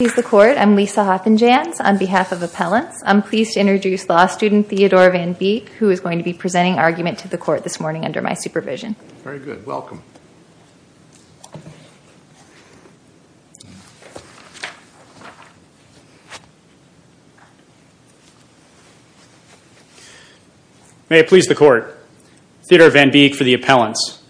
I'm Lisa Hoffenjanz on behalf of Appellants. I'm pleased to introduce law student Theodore Van Beek who is going to be presenting argument to the court this morning under my supervision. May it please the court. Theodore Van Beek for the Appellants.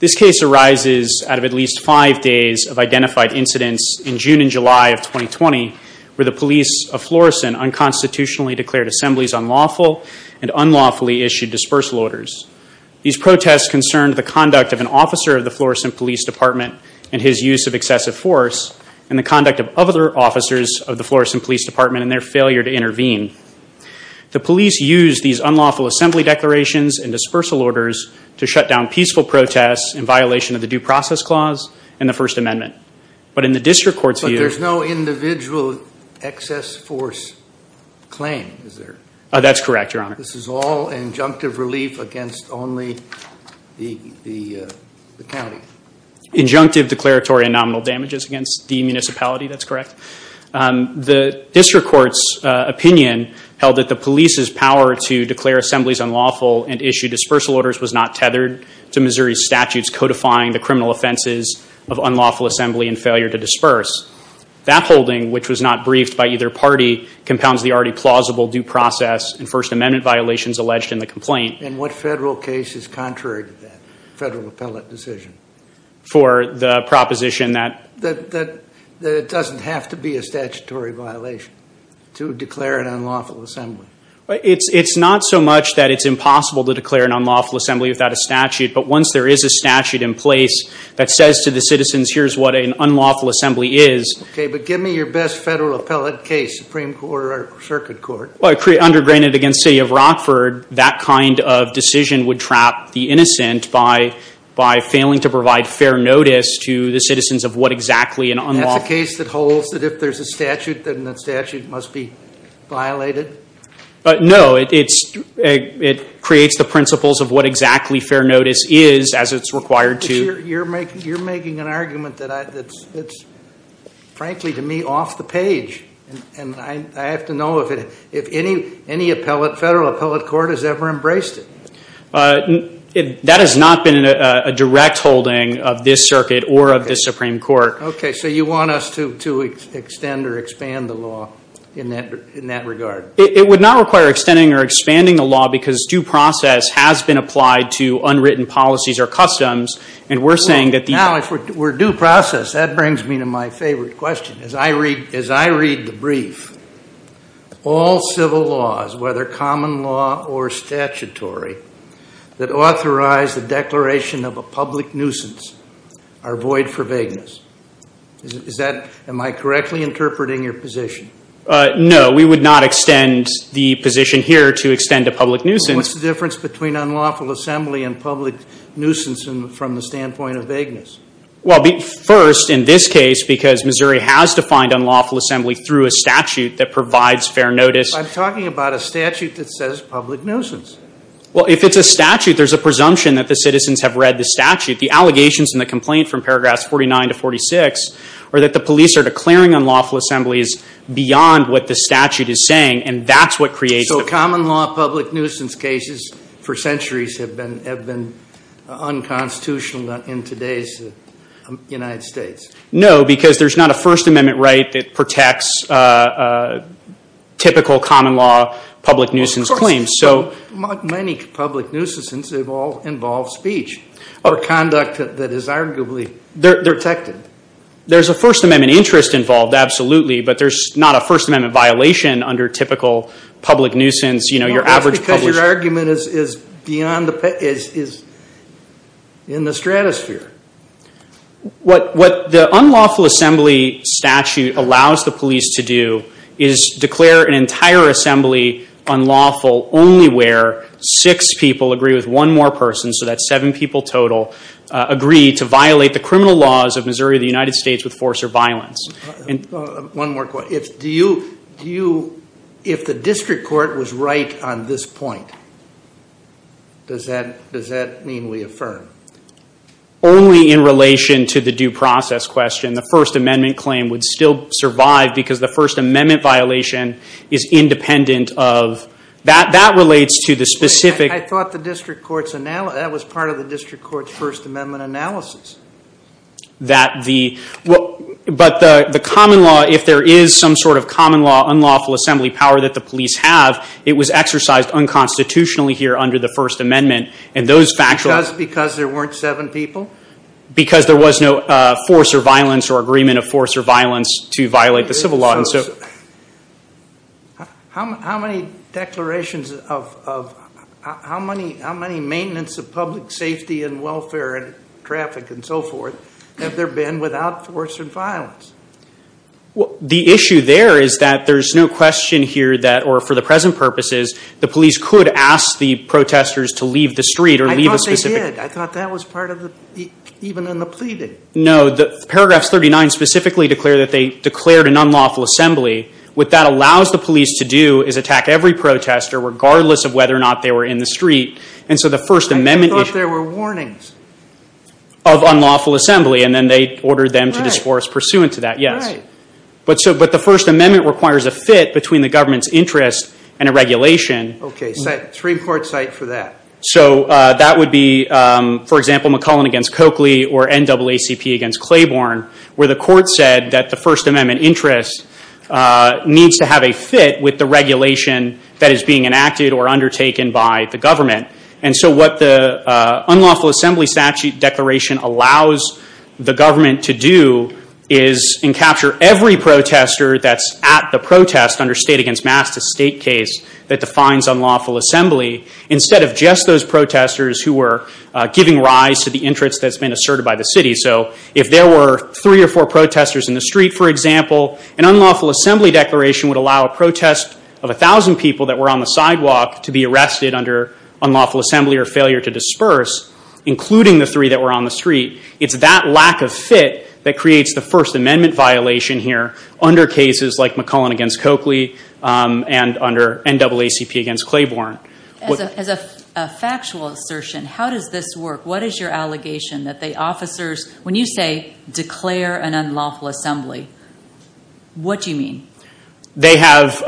This case arises out of at least five days of identified incidents in June and July of 2020 where the police of Florissant unconstitutionally declared assemblies unlawful and unlawfully issued dispersal orders. These protests concerned the conduct of an officer of the Florissant Police Department and his use of excessive force and the conduct of other officers of the Florissant Police Department and their failure to intervene. The police used these unlawful assembly declarations and dispersal orders to shut down peaceful protests in and the First Amendment. But in the district court's view... But there's no individual excess force claim, is there? That's correct, your honor. This is all injunctive relief against only the county. Injunctive declaratory and nominal damages against the municipality, that's correct. The district court's opinion held that the police's power to declare assemblies unlawful and issue dispersal orders was not tethered to Missouri statutes codifying the criminal offenses of unlawful assembly and failure to disperse. That holding, which was not briefed by either party, compounds the already plausible due process and First Amendment violations alleged in the complaint. And what federal case is contrary to that federal appellate decision? For the proposition that... That it doesn't have to be a statutory violation to declare an unlawful assembly. It's not so much that it's impossible to declare an statute in place that says to the citizens, here's what an unlawful assembly is. Okay, but give me your best federal appellate case, Supreme Court or Circuit Court. Well, undergrained against City of Rockford, that kind of decision would trap the innocent by failing to provide fair notice to the citizens of what exactly an unlawful... That's the case that holds that if there's a statute, then that statute must be violated? No, it creates the principles of what required to... You're making an argument that's, frankly to me, off the page. And I have to know if any federal appellate court has ever embraced it. That has not been a direct holding of this circuit or of the Supreme Court. Okay, so you want us to extend or expand the law in that regard? It would not require extending or expanding the law because due process has been applied to unwritten policies or customs, and we're saying that... Now, if we're due process, that brings me to my favorite question. As I read the brief, all civil laws, whether common law or statutory, that authorize the declaration of a public nuisance are void for vagueness. Am I correctly interpreting your position? No, we would not extend the position here to extend a between unlawful assembly and public nuisance from the standpoint of vagueness. Well, first, in this case, because Missouri has defined unlawful assembly through a statute that provides fair notice... I'm talking about a statute that says public nuisance. Well, if it's a statute, there's a presumption that the citizens have read the statute. The allegations in the complaint from paragraphs 49 to 46 are that the police are declaring unlawful assemblies beyond what the statute is saying, and that's what creates... So common law public nuisance for centuries have been unconstitutional in today's United States. No, because there's not a First Amendment right that protects typical common law public nuisance claims, so... Many public nuisance have all involved speech or conduct that is arguably protected. There's a First Amendment interest involved, absolutely, but there's not a First Amendment violation under typical public nuisance. You know, your average public... No, that's because your argument is beyond the... is in the stratosphere. What the unlawful assembly statute allows the police to do is declare an entire assembly unlawful only where six people agree with one more person, so that's seven people total, agree to violate the criminal laws of Missouri of the United States with force or violence. One more question. Do you... If the district court was right on this point, does that mean we affirm? Only in relation to the due process question. The First Amendment claim would still survive because the First Amendment violation is independent of... That relates to the specific... I thought the district court's analysis... That was part of the district court's First Amendment analysis. That the... But the common law, if there is some sort of common law, unlawful assembly power that the police have, it was exercised unconstitutionally here under the First Amendment and those facts... Because there weren't seven people? Because there was no force or violence or agreement of force or violence to violate the civil law, and so... How many declarations of... How many maintenance of public safety and welfare and traffic and so forth have there been without force and violence? Well, the issue there is that there's no question here that, or for the present purposes, the police could ask the protesters to leave the street or leave a specific... I thought they did. I thought that was part of the... Even in the pleading. No, the paragraphs 39 specifically declare that they declared an unlawful assembly. What that allows the police to do is attack every protester regardless of whether or not they were in the street. And so the First Amendment... I thought there were warnings? Of unlawful assembly, and then they ordered them to discourse pursuant to that, yes. Right. But so... But the First Amendment requires a fit between the government's interest and a regulation. Okay, three-court cite for that. So that would be, for example, McClellan against Coakley or NAACP against Claiborne, where the court said that the First Amendment interest needs to have a fit with the regulation that is being enacted or undertaken by the government. And so what the unlawful assembly statute declaration allows the government to do is encapture every protester that's at the protest under state-against-mass-to-state case that defines unlawful assembly instead of just those protesters who were giving rise to the interest that's been asserted by the city. So if there were three or four protesters in the street, for example, an unlawful assembly declaration would allow a protest of a thousand people that were on the sidewalk to be arrested under unlawful assembly or failure to disperse, including the three that were on the street. It's that lack of fit that creates the First Amendment violation here under cases like McClellan against Coakley and under NAACP against Claiborne. As a factual assertion, how does this work? What is your allegation that the officers, when you say declare an unlawful assembly, they have,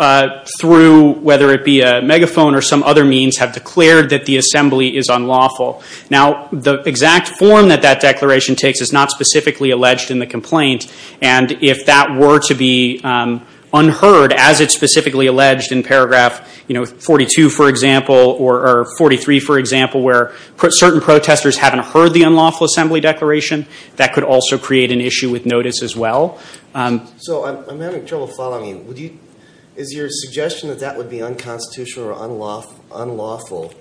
through whether it be a megaphone or some other means, have declared that the assembly is unlawful? Now the exact form that that declaration takes is not specifically alleged in the complaint, and if that were to be unheard as it's specifically alleged in paragraph 42, for example, or 43, for example, where certain protesters haven't heard the unlawful assembly declaration, that could also create an issue with notice as well. So I'm having trouble following you. Is your suggestion that that would be unconstitutional or unlawful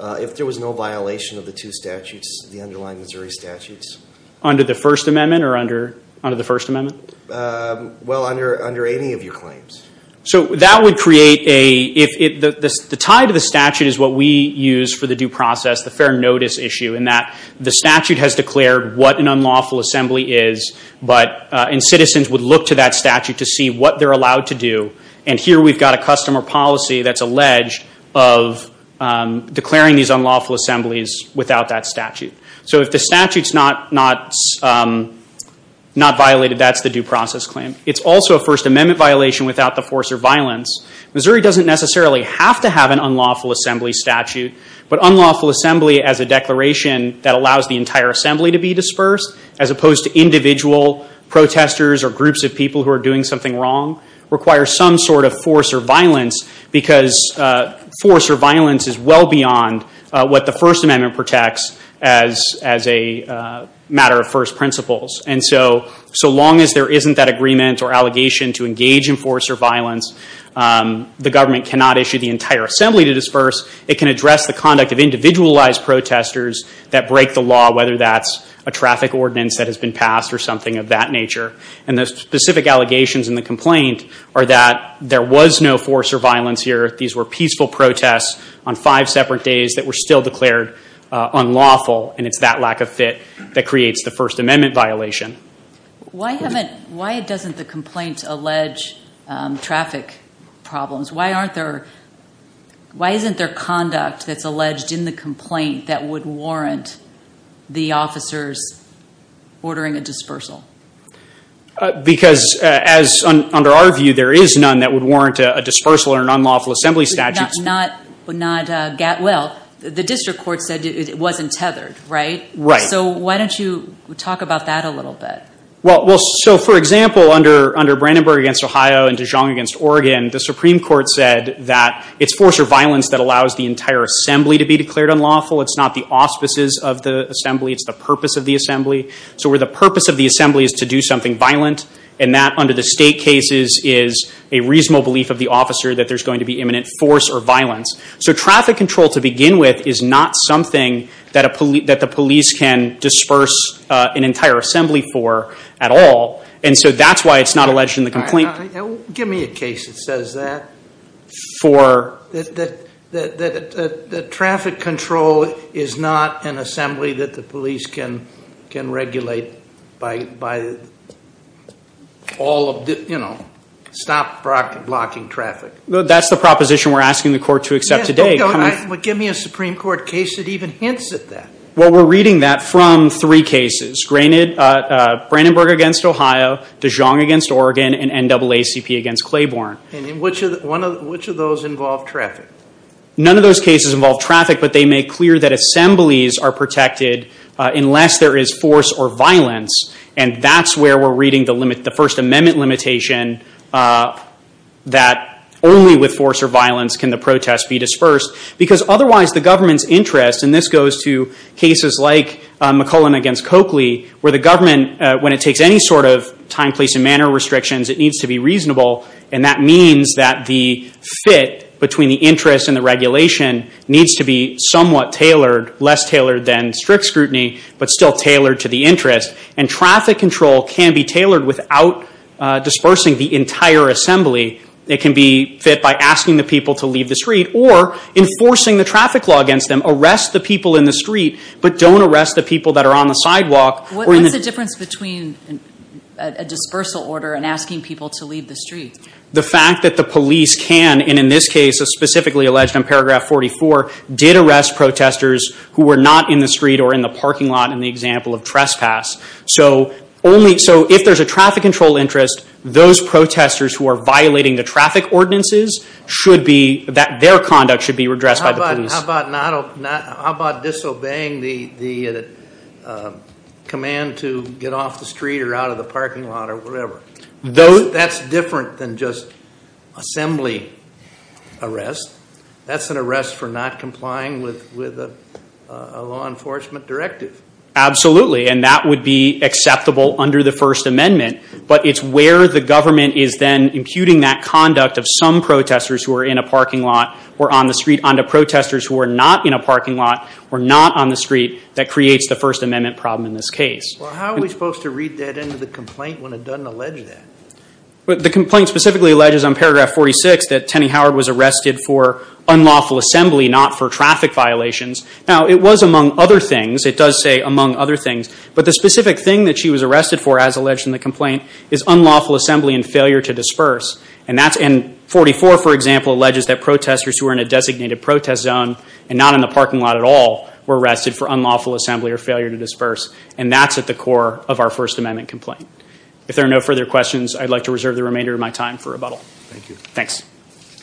if there was no violation of the two statutes, the underlying Missouri statutes? Under the First Amendment or under the First Amendment? Well, under any of your claims. So that would create a, the tie to the statute is what we use for the due process, the fair notice issue, in that the statute has declared what an unlawful assembly is, and citizens would look to that statute to see what they're allowed to do, and here we've got a customer policy that's alleged of declaring these unlawful assemblies without that statute. So if the statute's not violated, that's the due process claim. It's also a First Amendment violation without the force or violence. Missouri doesn't necessarily have to have an unlawful assembly statute, but unlawful assembly as a declaration that allows the entire assembly to be dispersed, as opposed to individual protesters or groups of people who are doing something wrong, requires some sort of force or violence, because force or violence is well beyond what the First Amendment protects as a matter of first principles. And so long as there isn't that agreement or allegation to engage in force or violence, the government cannot issue the entire assembly to disperse. It can address the conduct of individualized protesters that break the law, whether that's a traffic ordinance that has been passed or something of that nature. And the specific allegations in the complaint are that there was no force or violence here. These were peaceful protests on five separate days that were still declared unlawful, and it's that lack of fit that creates the First Amendment violation. Why doesn't the complaint allege traffic problems? Why isn't there conduct that's alleged in the complaint that would warrant the officers ordering a dispersal? Because as under our view, there is none that would warrant a dispersal or an unlawful assembly statute. Well, the district court said it wasn't tethered, right? Right. So why don't you talk about that a little bit? Well, so for example, under Brandenburg against Ohio and Dijon against Oregon, the Supreme Court said that it's force or violence that allows the entire assembly to be declared unlawful. It's not the auspices of the assembly, it's the purpose of the assembly. So where the purpose of the assembly is to do something violent, and that under the state cases is a reasonable belief of the officer that there's going to be imminent force or violence. So traffic control to begin with is not something that the police can assembly for at all, and so that's why it's not alleged in the complaint. Give me a case that says that. That traffic control is not an assembly that the police can can regulate by all of the, you know, stop blocking traffic. That's the proposition we're asking the court to accept today. Give me a Supreme Court case that even hints at that. Well, we're reading that from three cases. Brandenburg against Ohio, Dijon against Oregon, and NAACP against Claiborne. And which of those involve traffic? None of those cases involve traffic, but they make clear that assemblies are protected unless there is force or violence, and that's where we're reading the first amendment limitation that only with force or violence can the protest be dispersed, because otherwise the government's interest, and this goes to McClellan against Coakley, where the government, when it takes any sort of time, place, and manner restrictions, it needs to be reasonable, and that means that the fit between the interest and the regulation needs to be somewhat tailored, less tailored than strict scrutiny, but still tailored to the interest. And traffic control can be tailored without dispersing the entire assembly. It can be fit by asking the people to leave the street or enforcing the traffic law against them. Arrest the people in the street, but don't arrest the people that are on the sidewalk. What's the difference between a dispersal order and asking people to leave the street? The fact that the police can, and in this case is specifically alleged in paragraph 44, did arrest protesters who were not in the street or in the parking lot in the example of trespass. So only, so if there's a traffic control interest, those protesters who are violating the traffic ordinances should be, that their conduct should be redressed by the police. How about disobeying the command to get off the street or out of the parking lot or whatever? That's different than just assembly arrest. That's an arrest for not complying with a law enforcement directive. Absolutely, and that would be acceptable under the First Amendment, but it's where the government is then imputing that conduct of some protesters who are in a parking lot or not on the street that creates the First Amendment problem in this case. Well, how are we supposed to read that into the complaint when it doesn't allege that? Well, the complaint specifically alleges on paragraph 46 that Tenney Howard was arrested for unlawful assembly, not for traffic violations. Now, it was among other things. It does say among other things, but the specific thing that she was arrested for, as alleged in the complaint, is unlawful assembly and failure to disperse. And 44, for example, alleges that and not in the parking lot at all, were arrested for unlawful assembly or failure to disperse. And that's at the core of our First Amendment complaint. If there are no further questions, I'd like to reserve the remainder of my time for rebuttal. Thank you. Thanks. you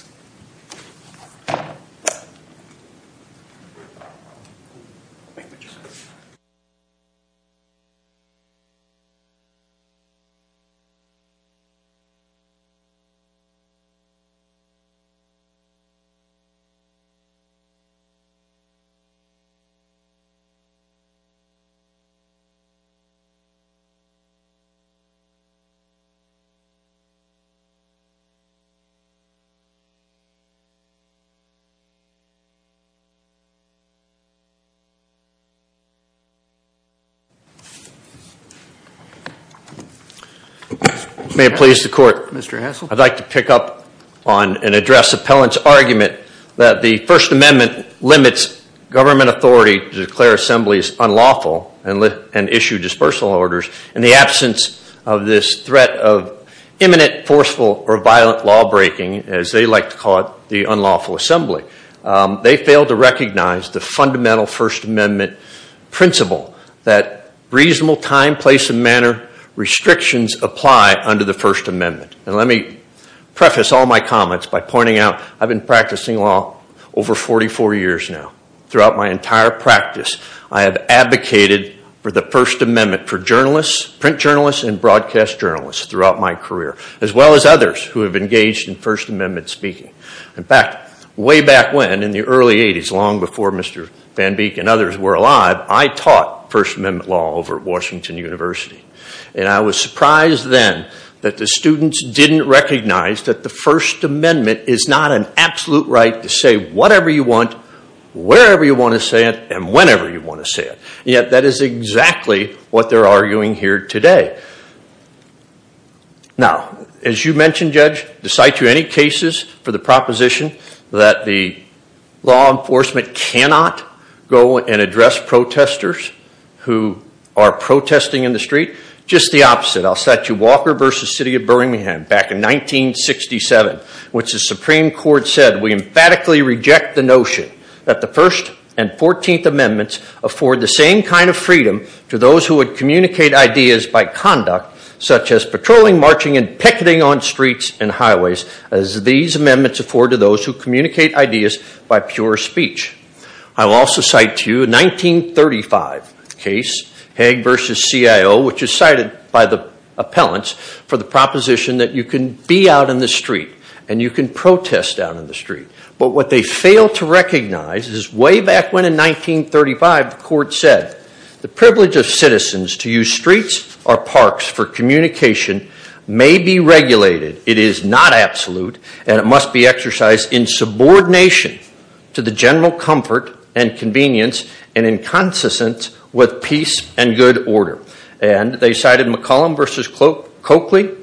May it please the court. Mr. Hassell. I'd like to pick up on and address Appellant's argument that the First Amendment limits government authority to declare assemblies unlawful and issue dispersal orders in the absence of this threat of imminent, forceful, or violent law-breaking, as they like to call it, the unlawful assembly. They fail to recognize the fundamental First Amendment principle that reasonable time, place, and manner restrictions apply under the First Amendment. And let me preface all my comments by pointing out I've been practicing law over 44 years now. Throughout my entire practice, I have advocated for the First Amendment for journalists, print journalists, and broadcast journalists throughout my career, as well as others who have engaged in First Amendment speaking. In fact, way back when, in the early 80s, long before Mr. Van Beek and others were alive, I taught First Amendment law over at that the students didn't recognize that the First Amendment is not an absolute right to say whatever you want, wherever you want to say it, and whenever you want to say it. Yet, that is exactly what they're arguing here today. Now, as you mentioned, Judge, do I cite you any cases for the proposition that the law enforcement cannot go and address protesters who are protesting in the City of Birmingham back in 1967, which the Supreme Court said we emphatically reject the notion that the First and Fourteenth Amendments afford the same kind of freedom to those who would communicate ideas by conduct, such as patrolling, marching, and picketing on streets and highways, as these amendments afford to those who communicate ideas by pure speech. I will also cite to you a 1935 case, Hagg v. CIO, which is cited by the appellants for the proposition that you can be out in the street and you can protest down in the street. But what they fail to recognize is way back when in 1935, the court said, the privilege of citizens to use streets or parks for communication may be regulated, it is not absolute, and it must be exercised in subordination to the general comfort and consistence with peace and good order. And they cited McCollum v. Coakley.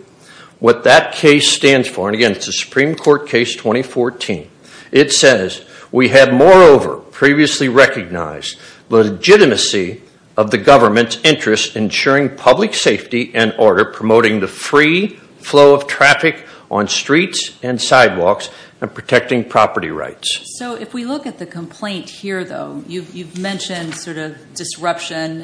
What that case stands for, and again it's a Supreme Court case 2014, it says we have moreover previously recognized the legitimacy of the government's interest in ensuring public safety and order, promoting the free flow of traffic on streets and sidewalks, and protecting property rights. So if we look at the sort of disruption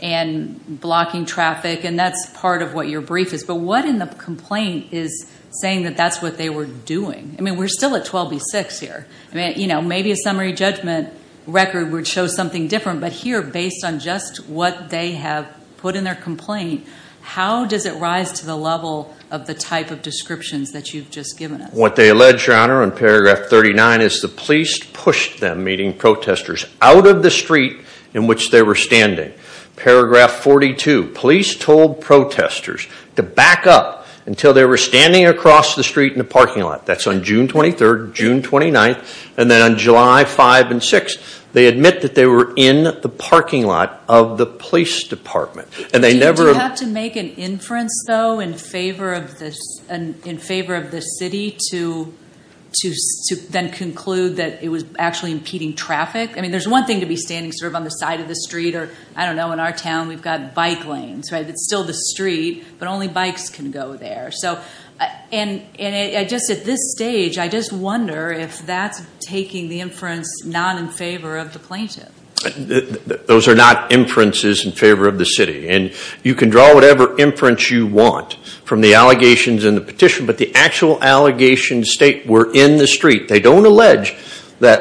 and blocking traffic, and that's part of what your brief is, but what in the complaint is saying that that's what they were doing? I mean, we're still at 12 v. 6 here. I mean, you know, maybe a summary judgment record would show something different, but here, based on just what they have put in their complaint, how does it rise to the level of the type of descriptions that you've just given us? What they allege, Your Honor, in paragraph 39, is the police pushed them, meaning protestors, out of the street in which they were standing. Paragraph 42, police told protestors to back up until they were standing across the street in the parking lot. That's on June 23rd, June 29th, and then on July 5th and 6th, they admit that they were in the parking lot of the police department. And they never... Do you have to make an inference, though, in that it was actually impeding traffic? I mean, there's one thing to be standing sort of on the side of the street, or I don't know, in our town, we've got bike lanes, right? It's still the street, but only bikes can go there. So, and just at this stage, I just wonder if that's taking the inference not in favor of the plaintiff. Those are not inferences in favor of the city, and you can draw whatever inference you want from the allegations in the petition, but the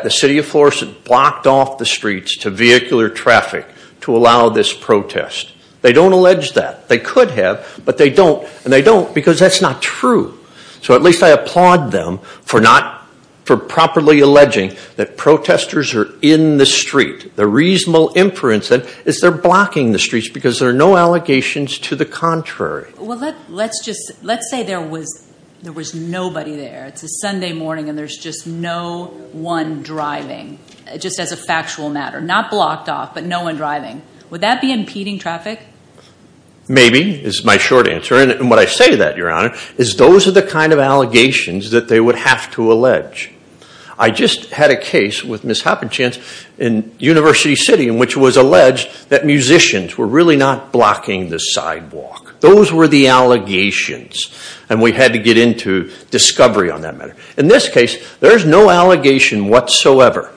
city of Florissant blocked off the streets to vehicular traffic to allow this protest. They don't allege that. They could have, but they don't, and they don't because that's not true. So at least I applaud them for not, for properly alleging that protestors are in the street. The reasonable inference that is they're blocking the streets because there are no allegations to the contrary. Well, let's just, let's say there was, there was nobody there. It's a one driving, just as a factual matter. Not blocked off, but no one driving. Would that be impeding traffic? Maybe is my short answer, and what I say to that, Your Honor, is those are the kind of allegations that they would have to allege. I just had a case with Ms. Hoppenchance in University City in which was alleged that musicians were really not blocking the sidewalk. Those were the allegations, and we had to get into discovery on that matter. In this case, there's no allegation whatsoever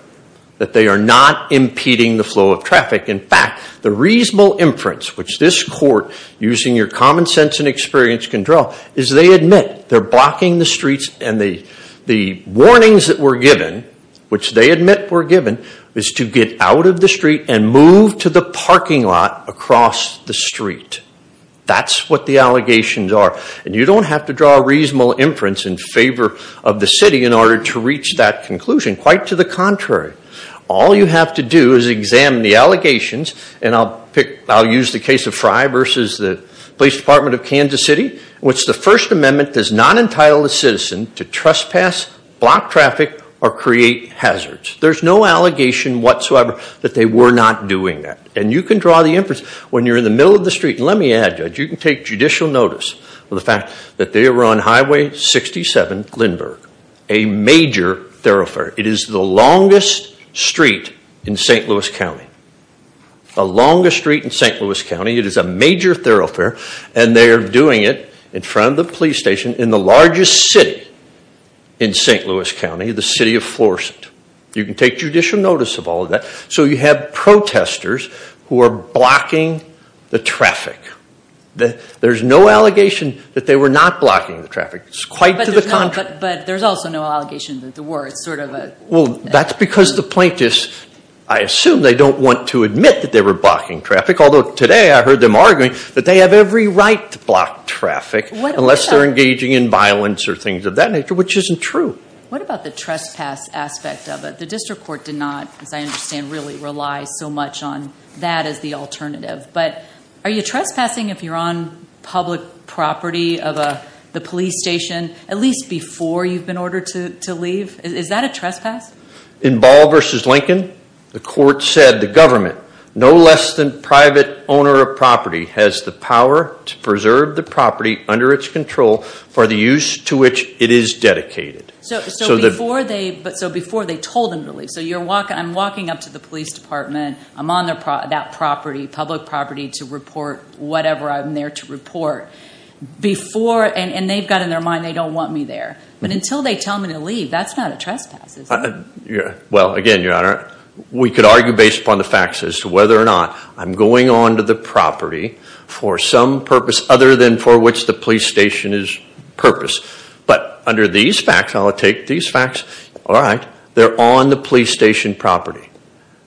that they are not impeding the flow of traffic. In fact, the reasonable inference which this court, using your common sense and experience, can draw is they admit they're blocking the streets, and the, the warnings that were given, which they admit were given, is to get out of the street and move to the parking lot across the street. That's what the allegations are, and you don't have to draw a reasonable inference in favor of the city in order to reach that conclusion. Quite to the contrary, all you have to do is examine the allegations, and I'll pick, I'll use the case of Fry versus the Police Department of Kansas City, which the First Amendment does not entitle a citizen to trespass, block traffic, or create hazards. There's no allegation whatsoever that they were not doing that, and you can draw the inference when you're in the middle of the street. Let me add, Judge, you can take judicial notice of the fact that they were on Highway 67, Lindbergh, a major thoroughfare. It is the longest street in St. Louis County, a longest street in St. Louis County. It is a major thoroughfare, and they are doing it in front of the police station in the largest city in St. Louis County, the city of Florissant. You can take judicial notice of all of that. So you have protesters who are blocking the traffic. There's no allegation that they were not blocking the traffic. It's quite to the contrary. But there's also no allegation that there were. It's sort of a... Well, that's because the plaintiffs, I assume they don't want to admit that they were blocking traffic, although today I heard them arguing that they have every right to block traffic unless they're engaging in violence or things of that nature, which isn't true. What about the trespass aspect of it? The District Court did not, as I understand, really rely so much on that as the alternative, but are you trespassing if you're on public property of the police station, at least before you've been ordered to leave? Is that a trespass? In Ball v. Lincoln, the court said the government, no less than private owner of property, has the power to preserve the property under its control for the use to which it is dedicated. So before they told them to leave, so I'm walking up to the police department, I'm on that property, public property, to report whatever I'm there to report. Before, and they've got in their mind they don't want me there, but until they tell me to leave, that's not a trespass. Yeah, well again, Your Honor, we could argue based upon the facts as to whether or not I'm going on to the property for some purpose other than for which the police station is purpose, but under these facts, I'll take these facts, all right, they're on the police station property.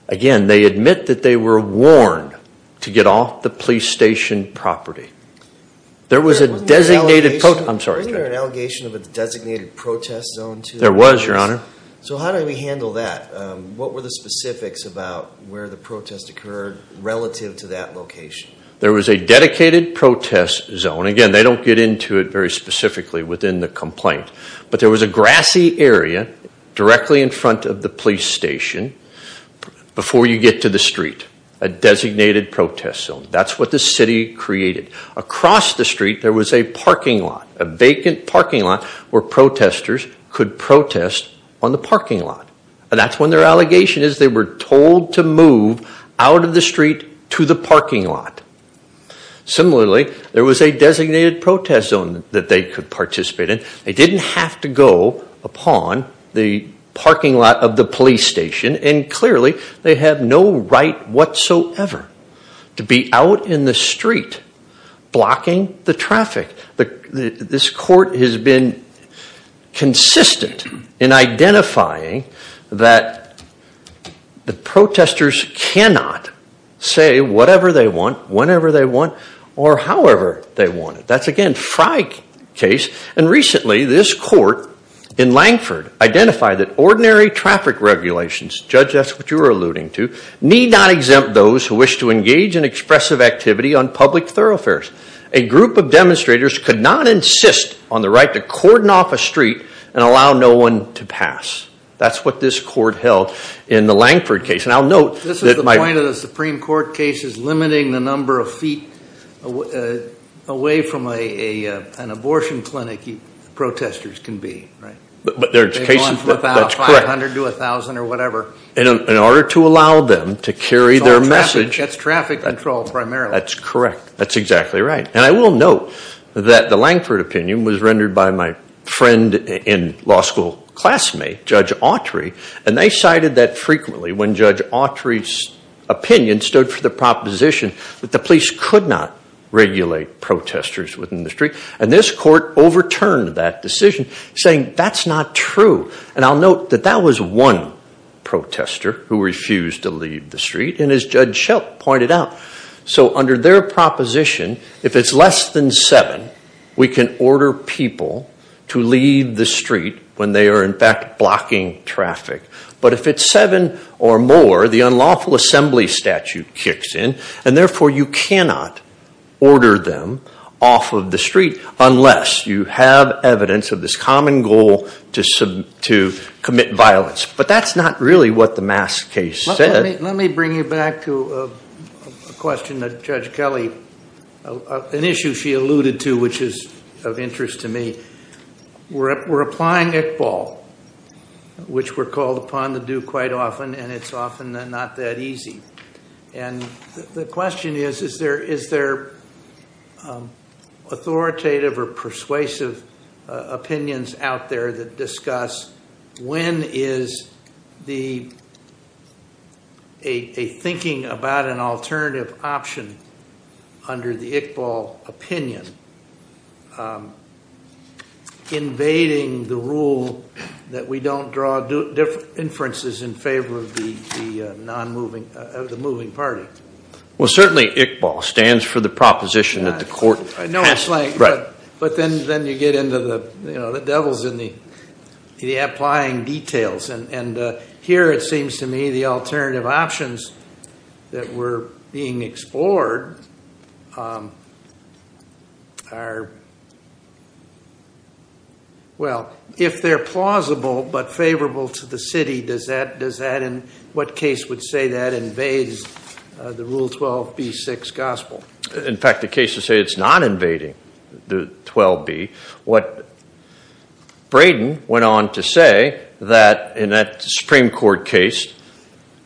Again, they admit that they were on the police station property. There was a designated, I'm sorry, an allegation of a designated protest zone? There was, Your Honor. So how do we handle that? What were the specifics about where the protest occurred relative to that location? There was a dedicated protest zone. Again, they don't get into it very specifically within the complaint, but there was a grassy area directly in front of the police station before you get to the street, a designated protest zone. That's what the city created. Across the street, there was a parking lot, a vacant parking lot where protesters could protest on the parking lot, and that's when their allegation is they were told to move out of the street to the parking lot. Similarly, there was a designated protest zone that they could participate in. They didn't have to go upon the parking lot of the police station, and clearly they have no right whatsoever to be out in the street blocking the traffic. This court has been consistent in identifying that the protesters cannot say whatever they want, whenever they want, or however they want. That's, again, Fry case, and recently this court in Langford identified that ordinary traffic regulations, Judge, that's what you were alluding to, need not exempt those who wish to engage in expressive activity on public thoroughfares. A group of demonstrators could not insist on the right to cordon off a street and allow no one to pass. That's what this court held in the Langford case, and I'll note that my point of the Supreme Court case is limiting the number of feet away from an abortion clinic protesters can be. But there's cases, that's correct, in order to allow them to carry their message. That's traffic control primarily. That's correct, that's exactly right, and I will note that the Langford opinion was rendered by my friend and law school classmate, Judge Autry, and they cited that frequently when Judge Autry's opinion stood for the proposition that the street, and this court overturned that decision, saying that's not true, and I'll note that that was one protester who refused to leave the street, and as Judge Shelton pointed out, so under their proposition, if it's less than seven, we can order people to leave the street when they are, in fact, blocking traffic. But if it's seven or more, the unlawful assembly statute kicks in, and therefore you cannot order them off of the street unless you have evidence of this common goal to submit to commit violence. But that's not really what the mass case said. Let me bring you back to a question that Judge Kelly, an issue she alluded to, which is of interest to me. We're applying Iqbal, which we're called is, is there authoritative or persuasive opinions out there that discuss when is the, a thinking about an alternative option under the Iqbal opinion invading the rule that we don't draw inferences in favor of the non-moving, of the moving party? Well, certainly Iqbal stands for the proposition that the court passed. No, it's like, but then you get into the, you know, the devil's in the applying details, and here it seems to me the alternative options that were being explored are, well, if they're plausible but favorable to the city, does that, does what case would say that invades the rule 12b6 gospel? In fact, the case would say it's not invading the 12b. What Braden went on to say that in that Supreme Court case,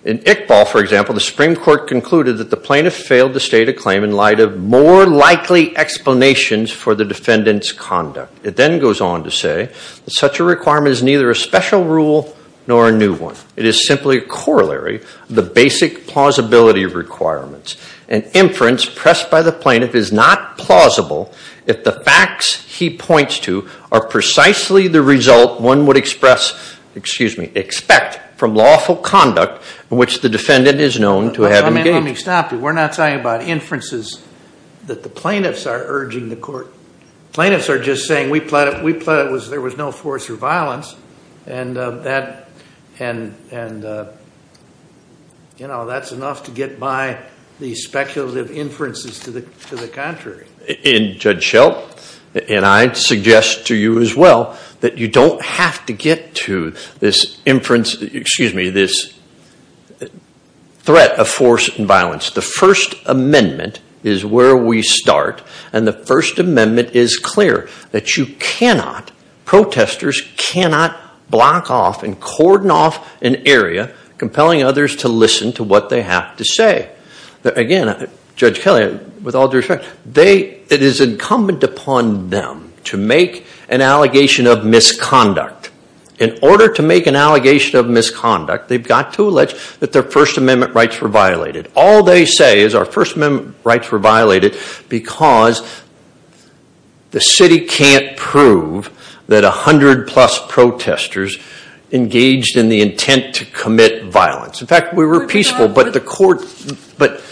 in Iqbal, for example, the Supreme Court concluded that the plaintiff failed to state a claim in light of more likely explanations for the defendant's conduct. It then goes on to say that such a requirement is neither a special rule nor a new one. It is simply a corollary of the basic plausibility of requirements. An inference pressed by the plaintiff is not plausible if the facts he points to are precisely the result one would express, excuse me, expect from lawful conduct in which the defendant is known to have engaged. Let me stop you. We're not talking about inferences that the plaintiffs are urging the court. Plaintiffs are just saying we pled it, we pled it was there was no force or and, you know, that's enough to get by these speculative inferences to the contrary. And Judge Shelp and I suggest to you as well that you don't have to get to this inference, excuse me, this threat of force and violence. The First Amendment is where we start and the First Amendment is clear that you cannot, protesters cannot block off and cordon off an area compelling others to listen to what they have to say. Again, Judge Kelly, with all due respect, it is incumbent upon them to make an allegation of misconduct. In order to make an allegation of misconduct, they've got to allege that their First Amendment rights were violated. All they say is our First Amendment rights were violated because the city can't prove that a hundred plus protesters engaged in the intent to commit violence. In fact, we were peaceful but the court, but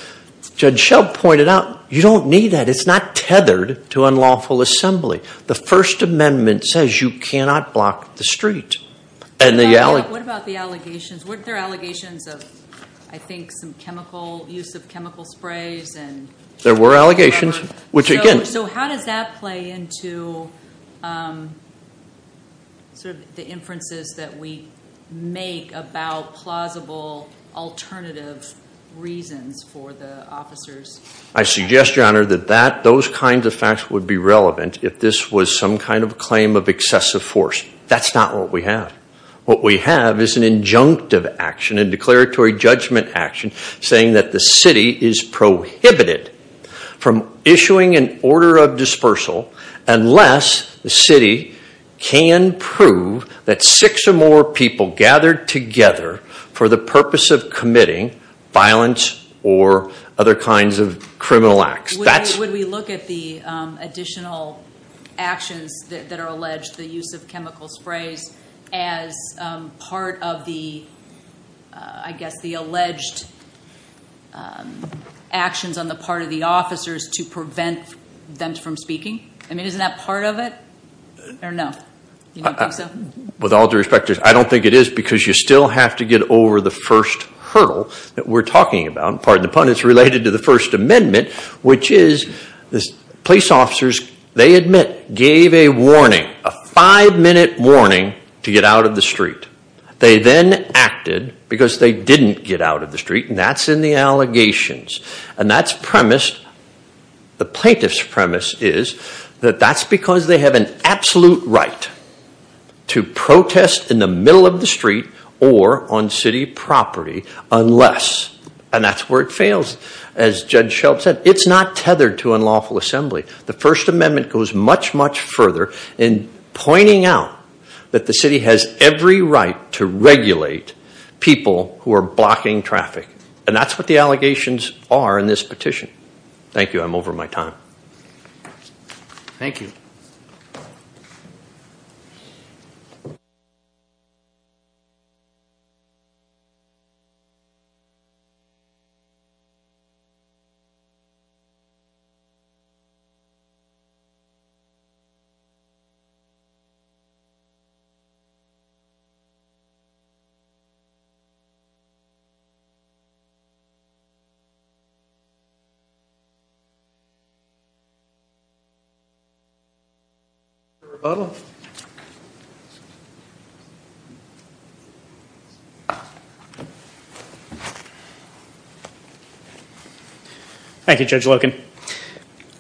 Judge Shelp pointed out, you don't need that. It's not tethered to unlawful assembly. The First Amendment says you cannot block the street and the alley. What about the allegations? Weren't there allegations of, I think, some chemical use of chemical weapons? So how does that play into sort of the inferences that we make about plausible alternative reasons for the officers? I suggest, Your Honor, that those kinds of facts would be relevant if this was some kind of claim of excessive force. That's not what we have. What we have is an injunctive action, a declaratory judgment action, saying that the city is prohibited from issuing an order of dispersal unless the city can prove that six or more people gathered together for the purpose of committing violence or other kinds of criminal acts. Would we look at the additional actions that are alleged, the use of chemical sprays, as part of the, I guess, the alleged actions on the part of the defendants from speaking? I mean, isn't that part of it or no? With all due respect, I don't think it is because you still have to get over the first hurdle that we're talking about, pardon the pun, it's related to the First Amendment, which is the police officers, they admit, gave a warning, a five-minute warning, to get out of the street. They then acted because they didn't get out of the street and that's in the allegations. And that's premised, the plaintiff's premise is, that that's because they have an absolute right to protest in the middle of the street or on city property unless, and that's where it fails, as Judge Shelp said, it's not tethered to unlawful assembly. The First Amendment goes much, much further in pointing out that the city has every right to regulate people who are blocking traffic and that's what the allegations are in this petition. Thank you, I'm over my time. Thank you. Thank you, Judge Loken.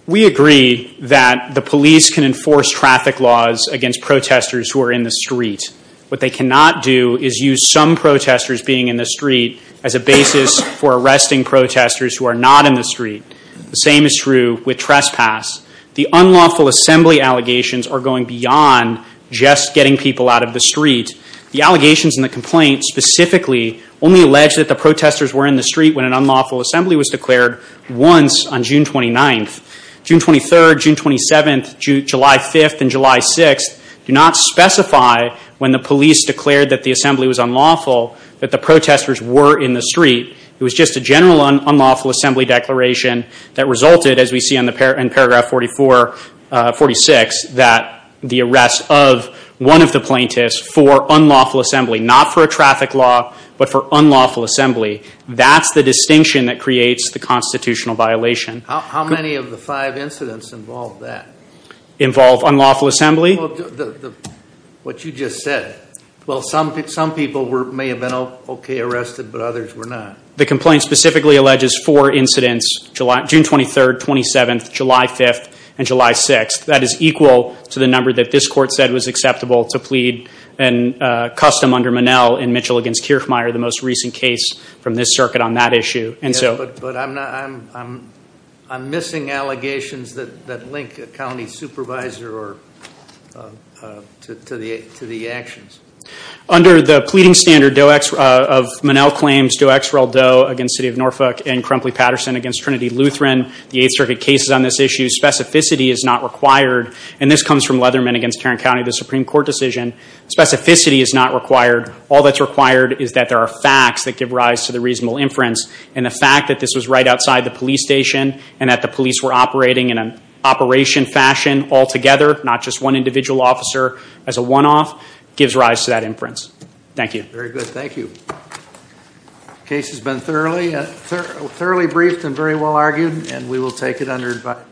We agree that the police can enforce traffic laws against protesters who are in the street. What they cannot do is use some protesters being in the street as a basis for arresting protesters who are not in the street. The same is true with trespass. The unlawful assembly allegations are going beyond just getting people out of the street. The allegations in the complaint specifically only alleged that the protesters were in the street when an unlawful assembly was declared once on June 29th. June 23rd, June 27th, July 5th, and July 6th do not specify when the police declared that the assembly was the protesters were in the street. It was just a general unlawful assembly declaration that resulted, as we see in paragraph 44, 46, that the arrest of one of the plaintiffs for unlawful assembly, not for a traffic law, but for unlawful assembly. That's the distinction that creates the constitutional violation. How many of the five incidents involved that? Involve unlawful assembly? What you just said. Well, some people may have been okay arrested, but others were not. The complaint specifically alleges four incidents, June 23rd, 27th, July 5th, and July 6th. That is equal to the number that this court said was acceptable to plead and custom under Monell in Mitchell against Kierfmeyer, the most recent case from this circuit on that issue. And so I'm missing allegations that link a county supervisor to the actions. Under the pleading standard of Monell claims, Doe x Rel Doe against City of Norfolk and Crumpley Patterson against Trinity Lutheran, the 8th Circuit cases on this issue, specificity is not required, and this comes from Leatherman against Tarrant County, the Supreme Court decision. Specificity is not required. All that's required is that there are facts that give rise to the reasonable inference, and the fact that this was right outside the police station and at police were operating in an operation fashion altogether, not just one individual officer as a one-off, gives rise to that inference. Thank you. Very good, thank you. Case has been thoroughly, thoroughly briefed and very well argued and we will take it under advice.